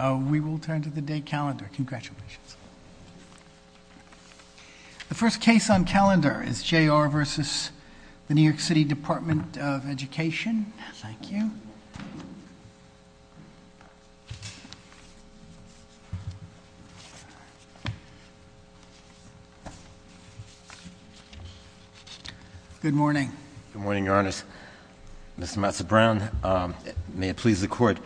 We will turn to the day calendar. Congratulations. The first case on calendar is J.R. v. The New York City Department of Education. Thank you. Good morning. Good morning, your honors. Mr. Matza-Brown, may it please the court.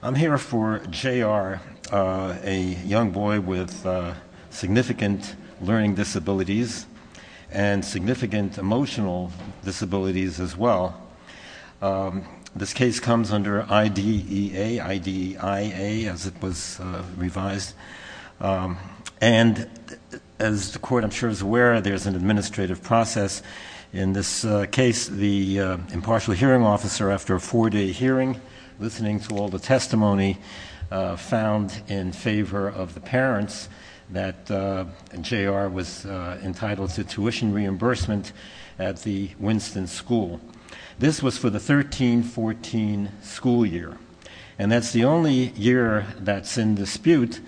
I'm here for J.R., a young boy with significant learning disabilities and significant emotional disabilities as well. This case comes under IDEA, I-D-E-I-A, as it was revised. And as the court, I'm sure, is aware, there's an administrative process. In this case, the impartial hearing officer, after a four-day hearing, listening to all the testimony, found in favor of the parents that J.R. was entitled to tuition reimbursement at the Winston School. This was for the 13-14 school year. And that's the only year that's in dispute.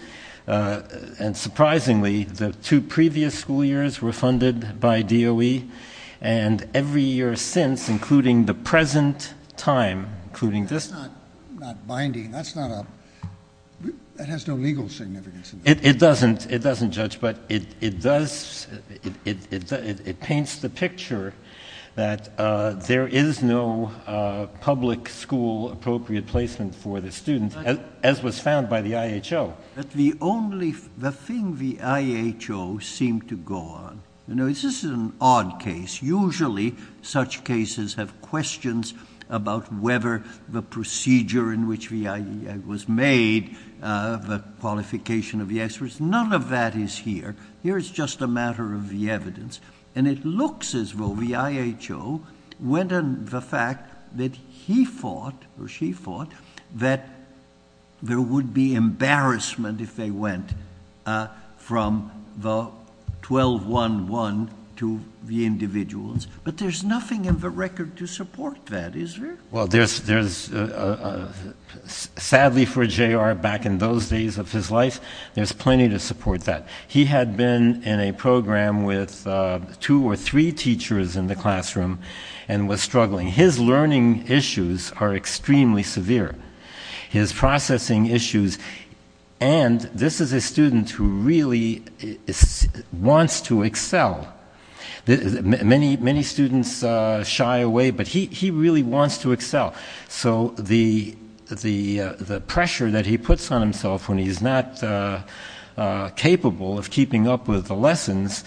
And surprisingly, the two previous school years were funded by DOE. And every year since, including the present time, including this- That's not binding. That's not a, that has no legal significance. It doesn't. It doesn't, Judge, but it does, it paints the picture that there is no public school appropriate placement for the students, as was found by the IHO. But the only, the thing the IHO seemed to go on, you know, this is an odd case. Usually, such cases have questions about whether the procedure in which the IDEA was made, the qualification of the experts, none of that is here. Here, it's just a matter of the evidence. And it looks as though the IHO went on the fact that he fought, or she fought, that there would be embarrassment if they went from the 12-1-1 to the individuals. But there's nothing in the record to support that, is there? Well, there's, there's, sadly for J.R. back in those days of his life, there's plenty to support that. He had been in a program with two or three teachers in the classroom, and was struggling. His learning issues are extremely severe. His processing issues, and this is a student who really wants to excel. Many, many students shy away, but he, he really wants to excel. So, the, the, the pressure that he puts on himself when he's not capable of keeping up with the lessons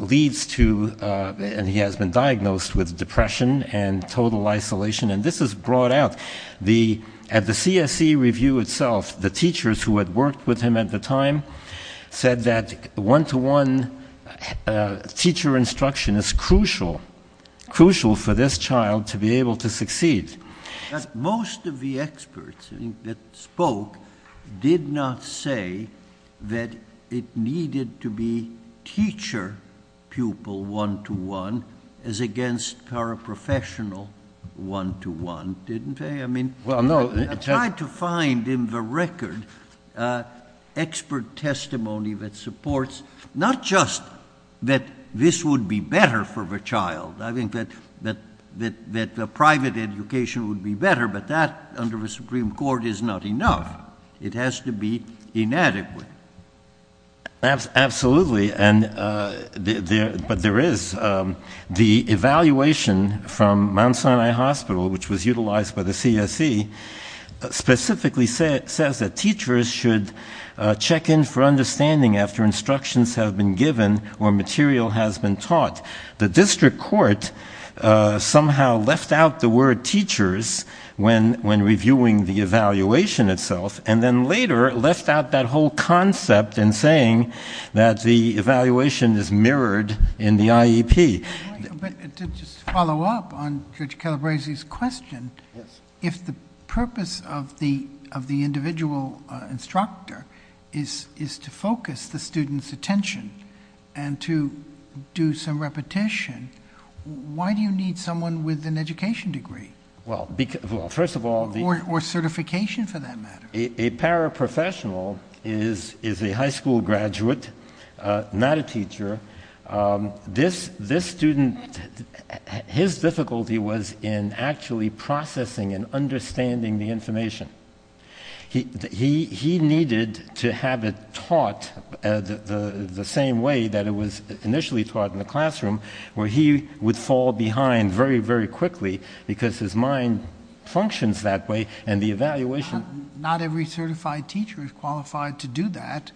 leads to, and he has been diagnosed with depression and total isolation, and this is brought out. The, at the CSE review itself, the teachers who had worked with him at the time, said that one-to-one teacher instruction is crucial. Crucial for this child to be able to succeed. But most of the experts that spoke did not say that it needed to be teacher-pupil one-to-one, as against paraprofessional one-to-one, didn't they? I mean, I tried to find in the record expert testimony that supports, not just that this would be better for the child. I think that, that, that, that the private education would be better, but that under the Supreme Court is not enough. It has to be inadequate. Absolutely, and there, but there is the evaluation from Mount Sinai Hospital, which was utilized by the CSE, specifically says that teachers should check in for understanding after instructions have been given or material has been taught. The district court somehow left out the word teachers when, when reviewing the evaluation itself, and then later left out that whole concept in saying that the evaluation is mirrored in the IEP. But to just follow up on Judge Calabrese's question. Yes. If the purpose of the, of the individual instructor is, is to focus the student's attention and to do some repetition. Why do you need someone with an education degree? Well, because, well, first of all, the- Or, or certification for that matter. A, a paraprofessional is, is a high school graduate, not a teacher. This, this student, his difficulty was in actually processing and understanding the information. He, he, he needed to have it taught the, the, the same way that it was initially taught in the classroom. Where he would fall behind very, very quickly because his mind functions that way. And the evaluation. Not every certified teacher is qualified to do that.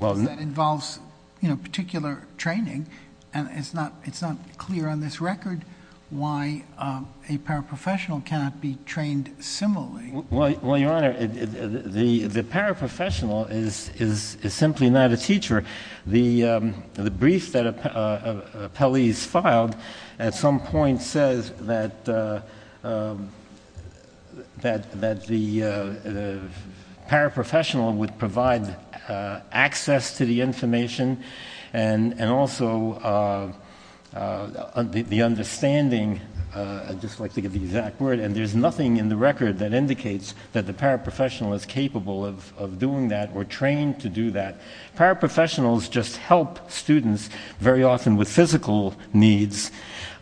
Well. Because that involves, you know, particular training. And it's not, it's not clear on this record why a paraprofessional cannot be trained similarly. Well, well, your honor, the, the paraprofessional is, is, is simply not a teacher. The the brief that appellees filed at some point says that that, that the paraprofessional would provide access to the information. And, and also the, the understanding I'd just like to get the exact word. And there's nothing in the record that indicates that the paraprofessional is capable of, of doing that or trained to do that. Paraprofessionals just help students very often with physical needs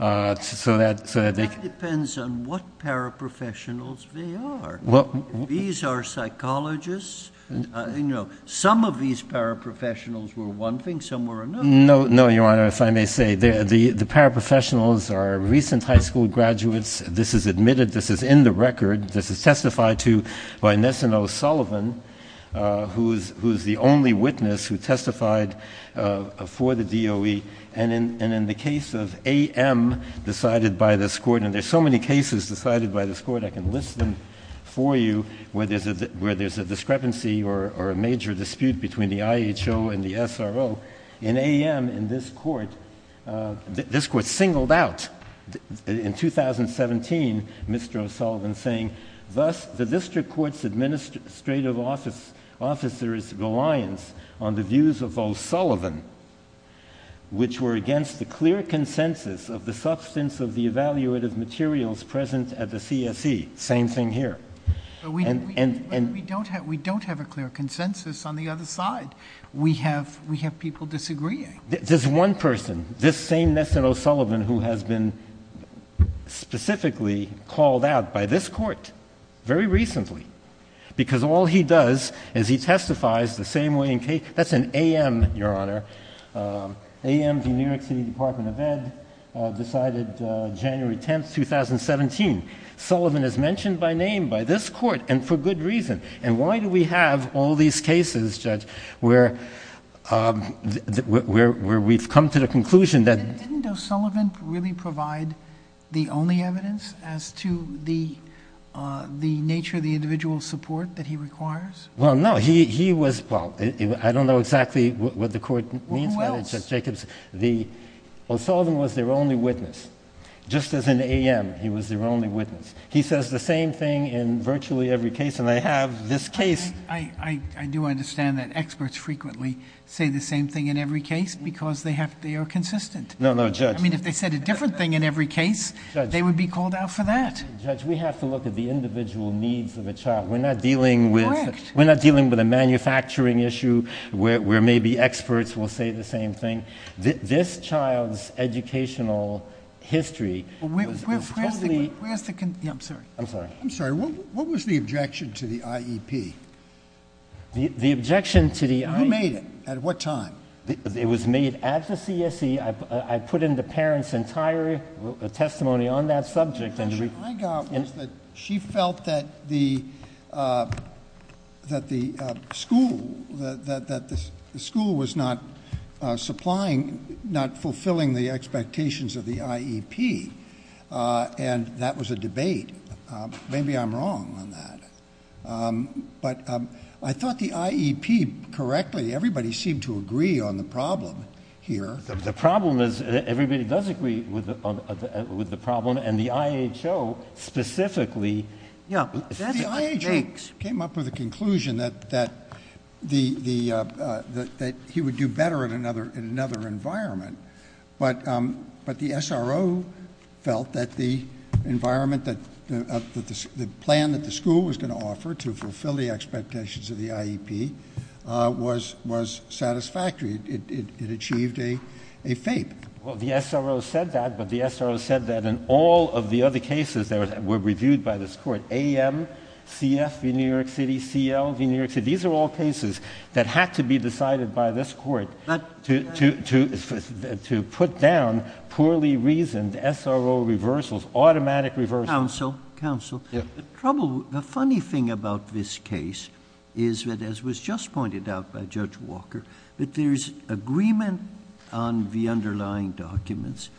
so that, so that. That depends on what paraprofessionals they are. Well. These are psychologists, you know. Some of these paraprofessionals were one thing, some were another. No, no, your honor, if I may say. The, the, the paraprofessionals are recent high school graduates. This is admitted, this is in the record. This is testified to by Nesano Sullivan who's, who's the only witness who testified for the DOE. And in, and in the case of AM decided by this court, and there's so many cases decided by this court, I can list them for you, where there's a, where there's a discrepancy or, or a major dispute between the IHO and the SRO. In AM, in this court this court singled out in 2017, Mr. O'Sullivan saying, thus, the district court's administrative office, officer's reliance on the views of O'Sullivan, which were against the clear consensus of the substance of the evaluative materials present at the CSE. Same thing here. And, and, and. We don't have, we don't have a clear consensus on the other side. We have, we have people disagreeing. This one person, this same Nesano Sullivan who has been specifically called out by this court, very recently. Because all he does is he testifies the same way in case, that's an AM, your honor. AM, the New York City Department of Ed, decided January 10th, 2017. Sullivan is mentioned by name by this court, and for good reason. And why do we have all these cases, Judge, where, where, where we've come to the conclusion that. Didn't O'Sullivan really provide the only evidence as to the the nature of the individual support that he requires? Well, no, he, he was, well, I don't know exactly what the court means by that, Judge Jacobs. The, O'Sullivan was their only witness. Just as in AM, he was their only witness. He says the same thing in virtually every case, and they have this case. I, I, I do understand that experts frequently say the same thing in every case, because they have, they are consistent. No, no, Judge. I mean, if they said a different thing in every case, they would be called out for that. Judge, we have to look at the individual needs of a child. We're not dealing with. Correct. We're not dealing with a manufacturing issue, where, where maybe experts will say the same thing. This, this child's educational history. Where's the, where's the, yeah, I'm sorry. I'm sorry. I'm sorry. What was the objection to the IEP? The objection to the IEP. You made it. At what time? It was made at the CSE. I put in the parent's entire testimony on that subject. And the objection I got was that she felt that the, that the school, that the school was not supplying, not fulfilling the expectations of the IEP, and that was a debate. Maybe I'm wrong on that, but I thought the IEP correctly, everybody seemed to agree on the problem here. The problem is, everybody does agree with the problem, and the IHO specifically. Yeah, that's what I think. Came up with a conclusion that, that the, the, that he would do better in another, in another environment. But, but the SRO felt that the environment that, that the, the plan that the school was going to offer to fulfill the expectations of the IEP was, was satisfactory. It, it, it achieved a, a fate. Well, the SRO said that, but the SRO said that in all of the other cases that were reviewed by this court, AM, CF v. New York City, CL v. New York City, these are all cases that had to be decided by this court. But. To, to, to, to put down poorly reasoned SRO reversals, automatic reversals. Counsel, counsel. Yeah. Trouble, the funny thing about this case is that, as was just pointed out by Judge Walker, that there's agreement on the underlying documents,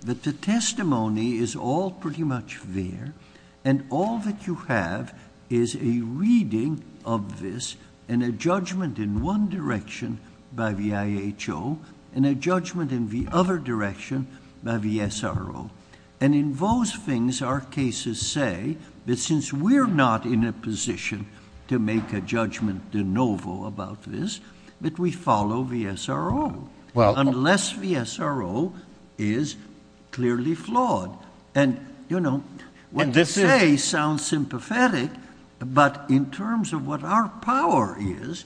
that the testimony is all pretty much there. And all that you have is a reading of this, and a judgment in one direction by the IHO, and a judgment in the other direction by the SRO. And in those things, our cases say, that since we're not in a position to make a judgment de novo about this, that we follow the SRO. Well. Unless the SRO is clearly flawed. And, you know, what they say sounds sympathetic, but in terms of what our power is,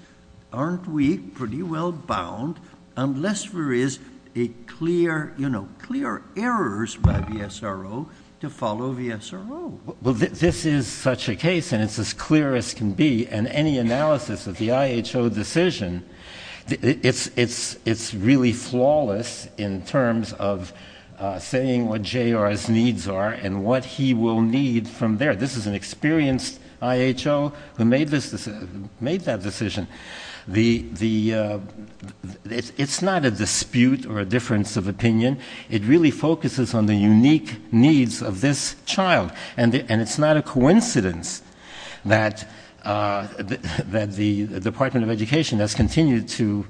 aren't we pretty well bound, unless there is a clear, you know, clear errors by the SRO, to follow the SRO. Well, this is such a case, and it's as clear as can be. And any analysis of the IHO decision, it's, it's, it's really flawless in terms of saying what JR's needs are, and what he will need from there. This is an experienced IHO who made this, made that decision. The, the, it's not a dispute or a difference of opinion. It really focuses on the unique needs of this child. And it's not a coincidence that the Department of Education has continued to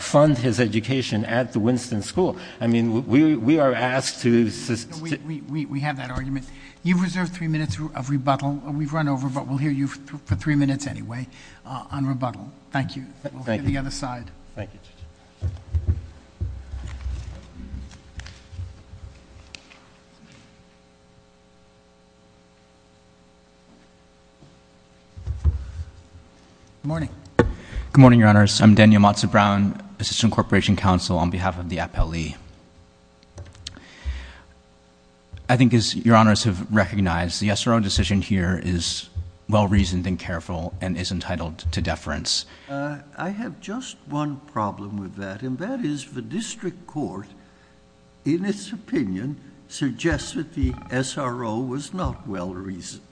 fund his education at the Winston School. I mean, we are asked to- We have that argument. You've reserved three minutes of rebuttal. We've run over, but we'll hear you for three minutes anyway on rebuttal. Thank you. We'll hear the other side. Thank you. Good morning. Good morning, your honors. I'm Daniel Matzo-Brown, Assistant Corporation Counsel on behalf of the Appellee. I think as your honors have recognized, the SRO decision here is well-reasoned and careful, and is entitled to deference. I have just one problem with that, and that is the district court, in its opinion, suggests that the SRO was not well-reasoned.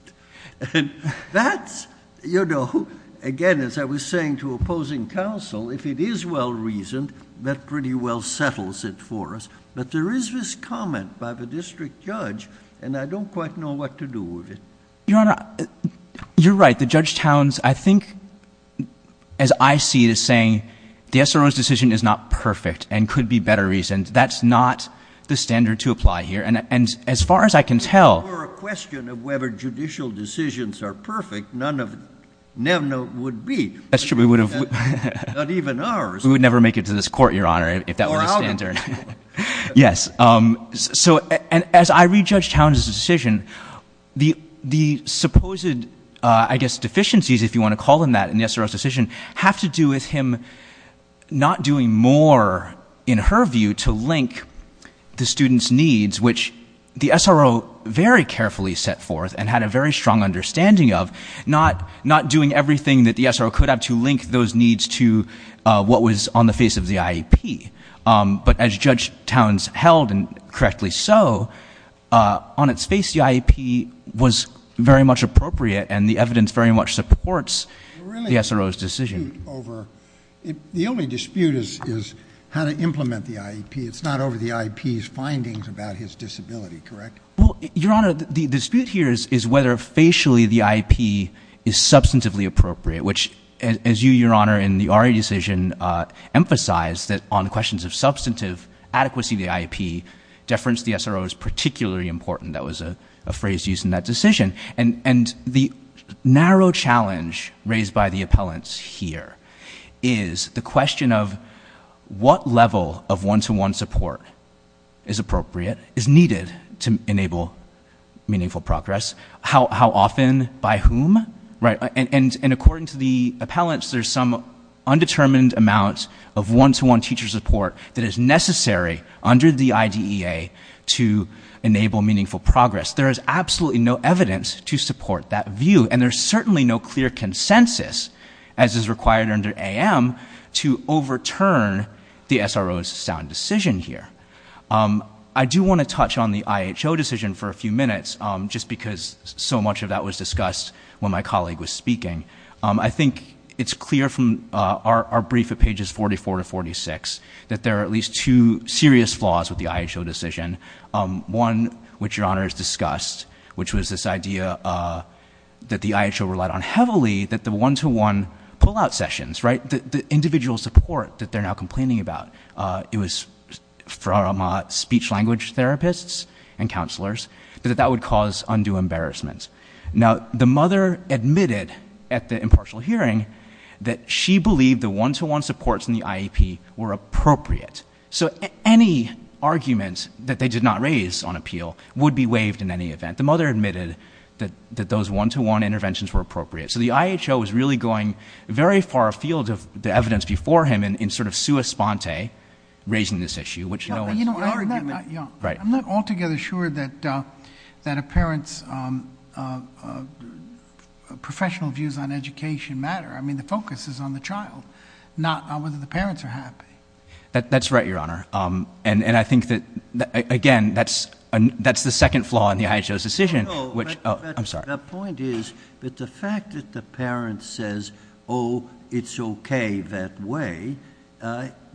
And that's, you know, again, as I was saying to opposing counsel, if it is well-reasoned, that pretty well settles it for us. But there is this comment by the district judge, and I don't quite know what to do with it. Your honor, you're right. The Judge Towns, I think, as I see it, is saying the SRO's decision is not perfect and could be better reasoned. That's not the standard to apply here. And as far as I can tell- If the decisions are perfect, none of them would be. That's true, we would have- Not even ours. We would never make it to this court, your honor, if that were the standard. Yes, so as I re-judge Towns' decision, the supposed, I guess, deficiencies, if you want to call them that, in the SRO's decision, have to do with him not doing more, in her view, to link the student's needs, which the SRO very carefully set forth and had a very strong understanding of, not doing everything that the SRO could have to link those needs to what was on the face of the IEP. But as Judge Towns held, and correctly so, on its face, the IEP was very much appropriate, and the evidence very much supports the SRO's decision. It's not over the IEP's findings about his disability, correct? Well, your honor, the dispute here is whether facially the IEP is substantively appropriate, which, as you, your honor, in the RA decision emphasized, that on questions of substantive adequacy of the IEP, deference to the SRO is particularly important. That was a phrase used in that decision. And the narrow challenge raised by the appellants here is the question of what level of one-to-one support is appropriate, is needed to enable meaningful progress, how often, by whom? And according to the appellants, there's some undetermined amount of one-to-one teacher support that is necessary under the IDEA to enable meaningful progress. There is absolutely no evidence to support that view, and there's certainly no clear consensus, as is required under AM, to overturn the SRO's sound decision here. I do want to touch on the IHO decision for a few minutes, just because so much of that was discussed when my colleague was speaking. I think it's clear from our brief at pages 44 to 46 that there are at least two serious flaws with the IHO decision. One, which your honor has discussed, which was this idea that the IHO relied on heavily, that the one-to-one pullout sessions, right, the individual support that they're now complaining about. It was from speech language therapists and counselors, that that would cause undue embarrassment. Now, the mother admitted at the impartial hearing that she believed the one-to-one supports in the IEP were appropriate. So any argument that they did not raise on appeal would be waived in any event. The mother admitted that those one-to-one interventions were appropriate. So the IHO is really going very far afield of the evidence before him in sort of sua sponte, raising this issue, which no one's arguing. Right. I'm not altogether sure that a parent's professional views on education matter. I mean, the focus is on the child, not whether the parents are happy. That's right, your honor. And I think that, again, that's the second flaw in the IHO's decision, which, I'm sorry. The point is that the fact that the parent says, oh, it's okay that way,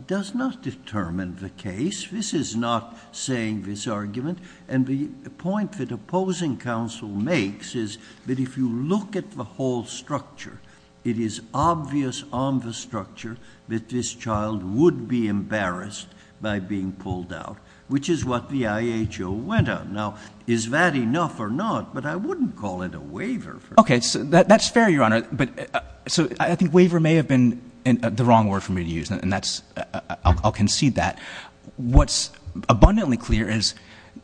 does not determine the case. This is not saying this argument. And the point that opposing counsel makes is that if you look at the whole structure, it is obvious on the structure that this child would be embarrassed by being pulled out, which is what the IHO went on. Now, is that enough or not? But I wouldn't call it a waiver. Okay, so that's fair, your honor. But so I think waiver may have been the wrong word for me to use, and I'll concede that. What's abundantly clear is,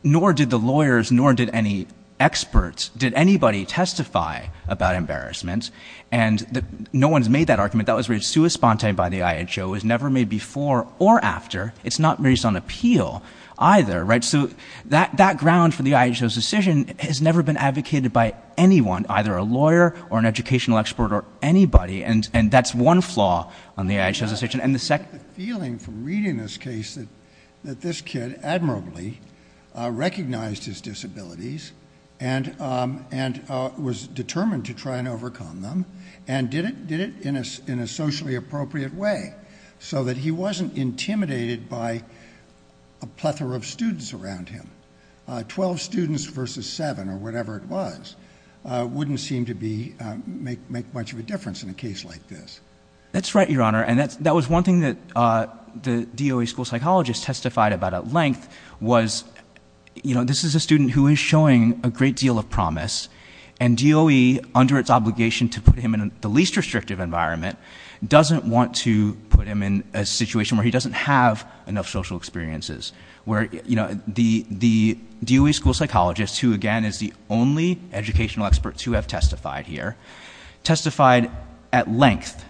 nor did the lawyers, nor did any experts, did anybody testify about embarrassment, and no one's made that argument. That was raised sui sponte by the IHO. It was never made before or after. It's not raised on appeal either, right? So that ground for the IHO's decision has never been advocated by anyone, either a lawyer or an educational expert or anybody. And that's one flaw on the IHO's decision. And the second- I get the feeling from reading this case that this kid admirably recognized his disabilities and was determined to try and overcome them and did it in a socially appropriate way so that he wasn't intimidated by a plethora of students around him. Twelve students versus seven or whatever it was wouldn't seem to make much of a difference in a case like this. That's right, your honor. And that was one thing that the DOE school psychologist testified about at length was, this is a student who is showing a great deal of promise, and DOE, under its obligation to put him in the least restrictive environment, doesn't want to put him in a situation where he doesn't have enough social experiences. Where the DOE school psychologist, who again is the only educational expert to have testified here, testified at length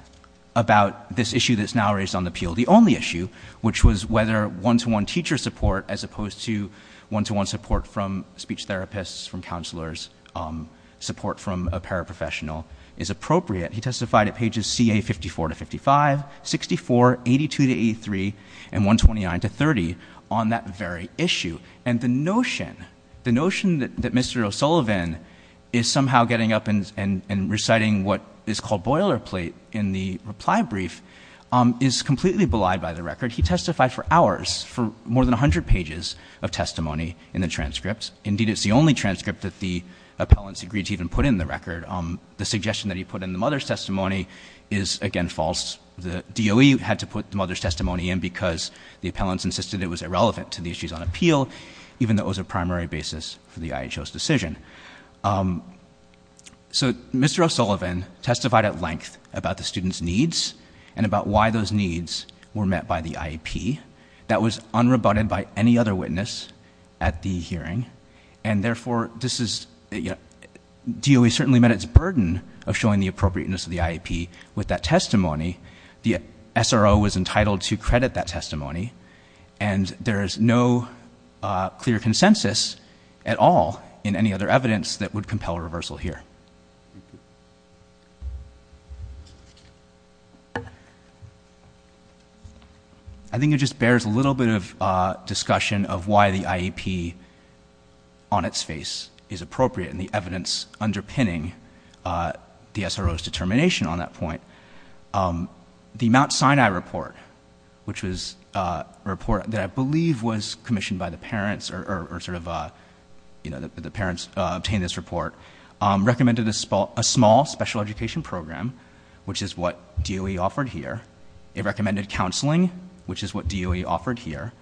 about this issue that's now raised on the appeal. The only issue, which was whether one-to-one teacher support as opposed to one-to-one support from speech therapists, from counselors, support from a paraprofessional is appropriate. He testified at pages CA 54 to 55, 64, 82 to 83, and 129 to 30 on that very issue. And the notion, the notion that Mr. O'Sullivan is somehow getting up and reciting what is called boilerplate in the reply brief is completely belied by the record. He testified for hours, for more than 100 pages of testimony in the transcript. Indeed, it's the only transcript that the appellants agreed to even put in the record. The suggestion that he put in the mother's testimony is, again, false. The DOE had to put the mother's testimony in because the appellants insisted it was irrelevant to the issues on appeal, even though it was a primary basis for the IHO's decision. So Mr. O'Sullivan testified at length about the student's needs and about why those needs were met by the IEP. That was unrebutted by any other witness at the hearing. And therefore, DOE certainly met its burden of showing the appropriateness of the IEP with that testimony, the SRO was entitled to credit that testimony. And there is no clear consensus at all in any other evidence that would compel a reversal here. I think it just bears a little bit of discussion of why the IEP on its face is appropriate, and the evidence underpinning the SRO's determination on that point. The Mount Sinai report, which was a report that I believe was commissioned by the parents, or sort of the parents obtained this report, recommended a small special education program, which is what DOE offered here. It recommended counseling, which is what DOE offered here.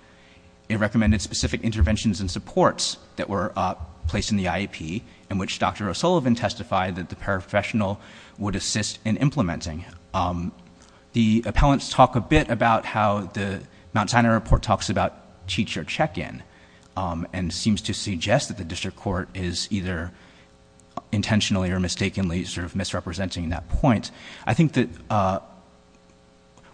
It recommended specific interventions and supports that were placed in the IEP, in which Dr. O'Sullivan testified that the paraprofessional would assist in implementing. The appellants talk a bit about how the Mount Sinai report talks about teacher check-in, and seems to suggest that the district court is either intentionally or mistakenly sort of misrepresenting that point. I think that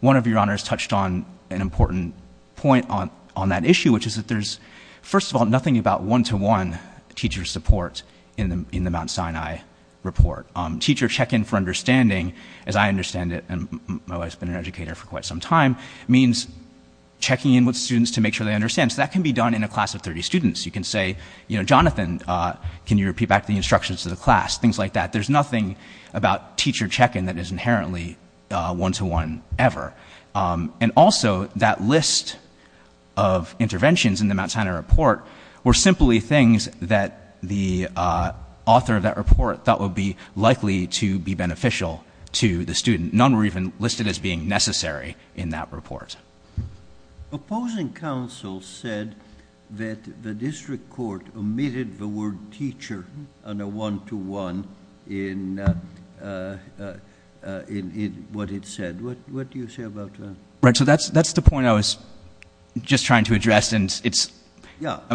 one of your honors touched on an important point on that issue, which is that there's, first of all, nothing about one-to-one teacher support in the Mount Sinai report. Teacher check-in for understanding, as I understand it, and my wife's been an educator for quite some time, means checking in with students to make sure they understand, so that can be done in a class of 30 students. You can say, Jonathan, can you repeat back the instructions to the class, things like that. There's nothing about teacher check-in that is inherently one-to-one ever. And also, that list of interventions in the Mount Sinai report were simply things that the author of that report thought would be likely to be beneficial to the student. None were even listed as being necessary in that report. Opposing counsel said that the district court omitted the word teacher on a one-to-one in what it said. What do you say about that? Right, so that's the point I was just trying to address, and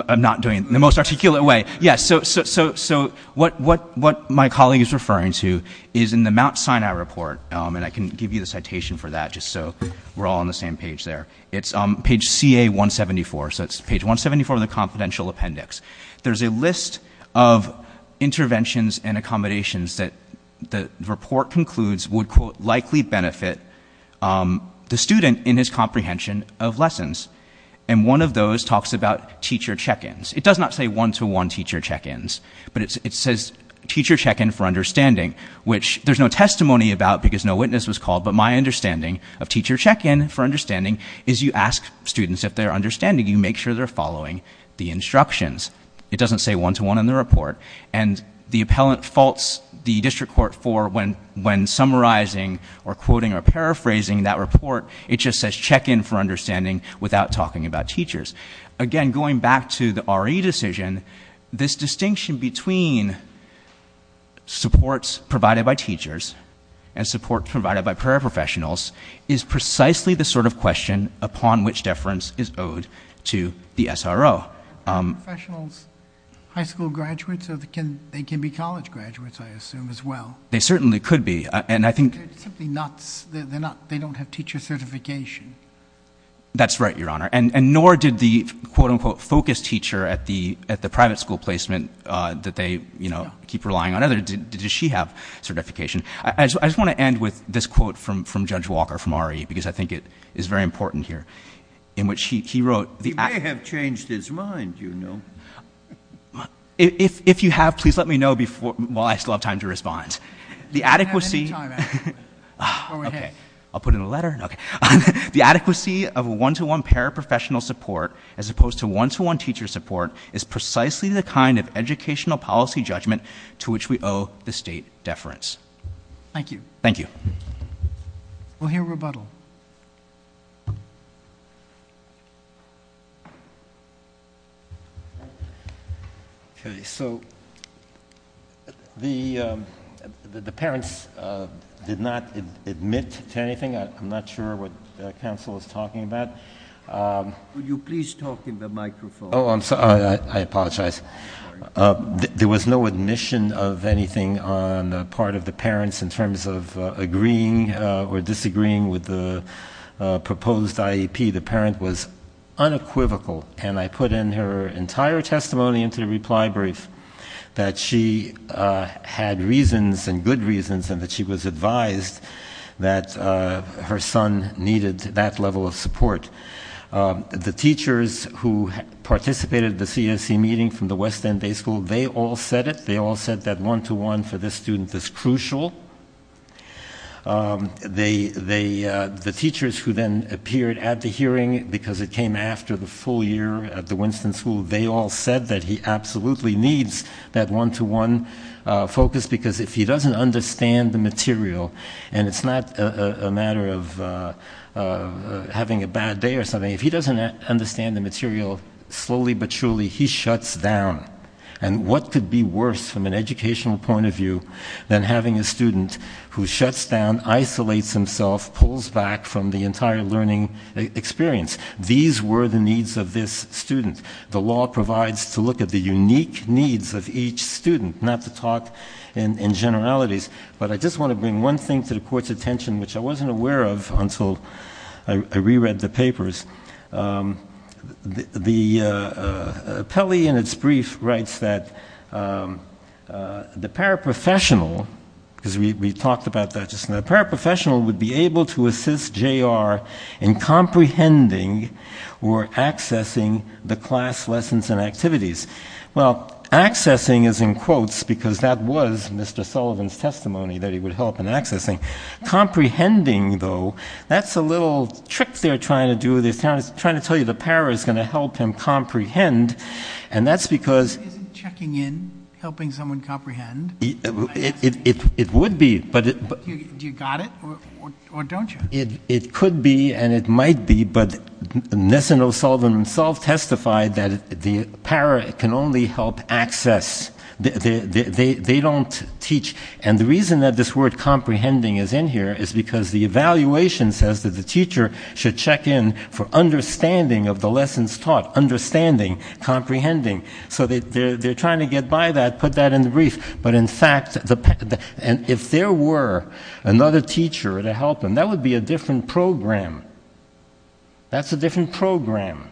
I'm not doing it in the most articulate way. Yes, so what my colleague is referring to is in the Mount Sinai report, and I can give you the citation for that just so we're all on the same page there. It's on page CA-174, so it's page 174 of the confidential appendix. There's a list of interventions and accommodations that the report concludes would, quote, likely benefit the student in his comprehension of lessons. And one of those talks about teacher check-ins. It does not say one-to-one teacher check-ins, but it says teacher check-in for because no witness was called, but my understanding of teacher check-in for understanding is you ask students if they're understanding, you make sure they're following the instructions. It doesn't say one-to-one in the report. And the appellant faults the district court for when summarizing or quoting or paraphrasing that report, it just says check-in for understanding without talking about teachers. Again, going back to the RE decision, this distinction between supports provided by teachers and supports provided by paraprofessionals is precisely the sort of question upon which deference is owed to the SRO. Professionals, high school graduates, they can be college graduates, I assume, as well. They certainly could be, and I think- They're simply not, they don't have teacher certification. That's right, Your Honor, and nor did the quote-unquote focus teacher at the private school placement that they, you know, keep relying on others, did she have certification? I just want to end with this quote from Judge Walker from RE, because I think it is very important here, in which he wrote- He may have changed his mind, you know. If you have, please let me know while I still have time to respond. The adequacy- Go ahead. Okay, I'll put in a letter, okay. The adequacy of a one-to-one paraprofessional support, as opposed to one-to-one teacher support, is precisely the kind of educational policy judgment to which we owe the state deference. Thank you. Thank you. We'll hear rebuttal. Okay, so the parents did not admit to anything, I'm not sure what counsel is talking about. Would you please talk in the microphone? Oh, I'm sorry, I apologize. There was no admission of anything on the part of the parents, in terms of agreeing or disagreeing with the proposed IEP. The parent was unequivocal, and I put in her entire testimony into the reply brief, that she had reasons, and good reasons, and that she was advised that her son needed that level of support. The teachers who participated in the CSE meeting from the West End Day School, they all said it. One for this student is crucial. The teachers who then appeared at the hearing, because it came after the full year at the Winston School, they all said that he absolutely needs that one-to-one focus. Because if he doesn't understand the material, and it's not a matter of having a bad day or something. If he doesn't understand the material, slowly but surely, he shuts down. And what could be worse, from an educational point of view, than having a student who shuts down, isolates himself, pulls back from the entire learning experience? These were the needs of this student. The law provides to look at the unique needs of each student, not to talk in generalities. But I just want to bring one thing to the court's attention, which I wasn't aware of until I reread the papers. The appellee in its brief writes that the paraprofessional, because we talked about that just now, the paraprofessional would be able to assist JR in comprehending or accessing the class lessons and activities. Well, accessing is in quotes, because that was Mr. Sullivan's testimony that he would help in accessing. Comprehending, though, that's a little trick they're trying to do. They're trying to tell you the para is going to help him comprehend. And that's because- Isn't checking in helping someone comprehend? It would be, but- Do you got it, or don't you? It could be, and it might be, but Nesano Sullivan himself testified that the para can only help access. They don't teach, and the reason that this word comprehending is in here is because the evaluation says that the teacher should check in for understanding of the lessons taught, understanding, comprehending. So they're trying to get by that, put that in the brief. But in fact, if there were another teacher to help him, that would be a different program. That's a different program.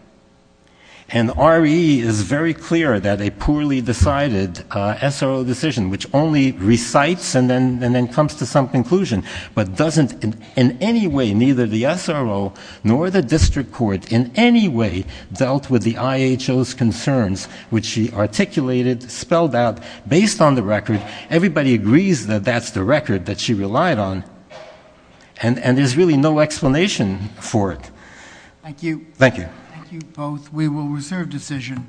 And RE is very clear that a poorly decided SRO decision, which only recites and then comes to some conclusion, but doesn't in any way, neither the SRO nor the district court in any way dealt with the IHO's concerns, which she articulated, spelled out, based on the record. Everybody agrees that that's the record that she relied on, and there's really no explanation for it. Thank you. Thank you. Thank you both. We will reserve decision.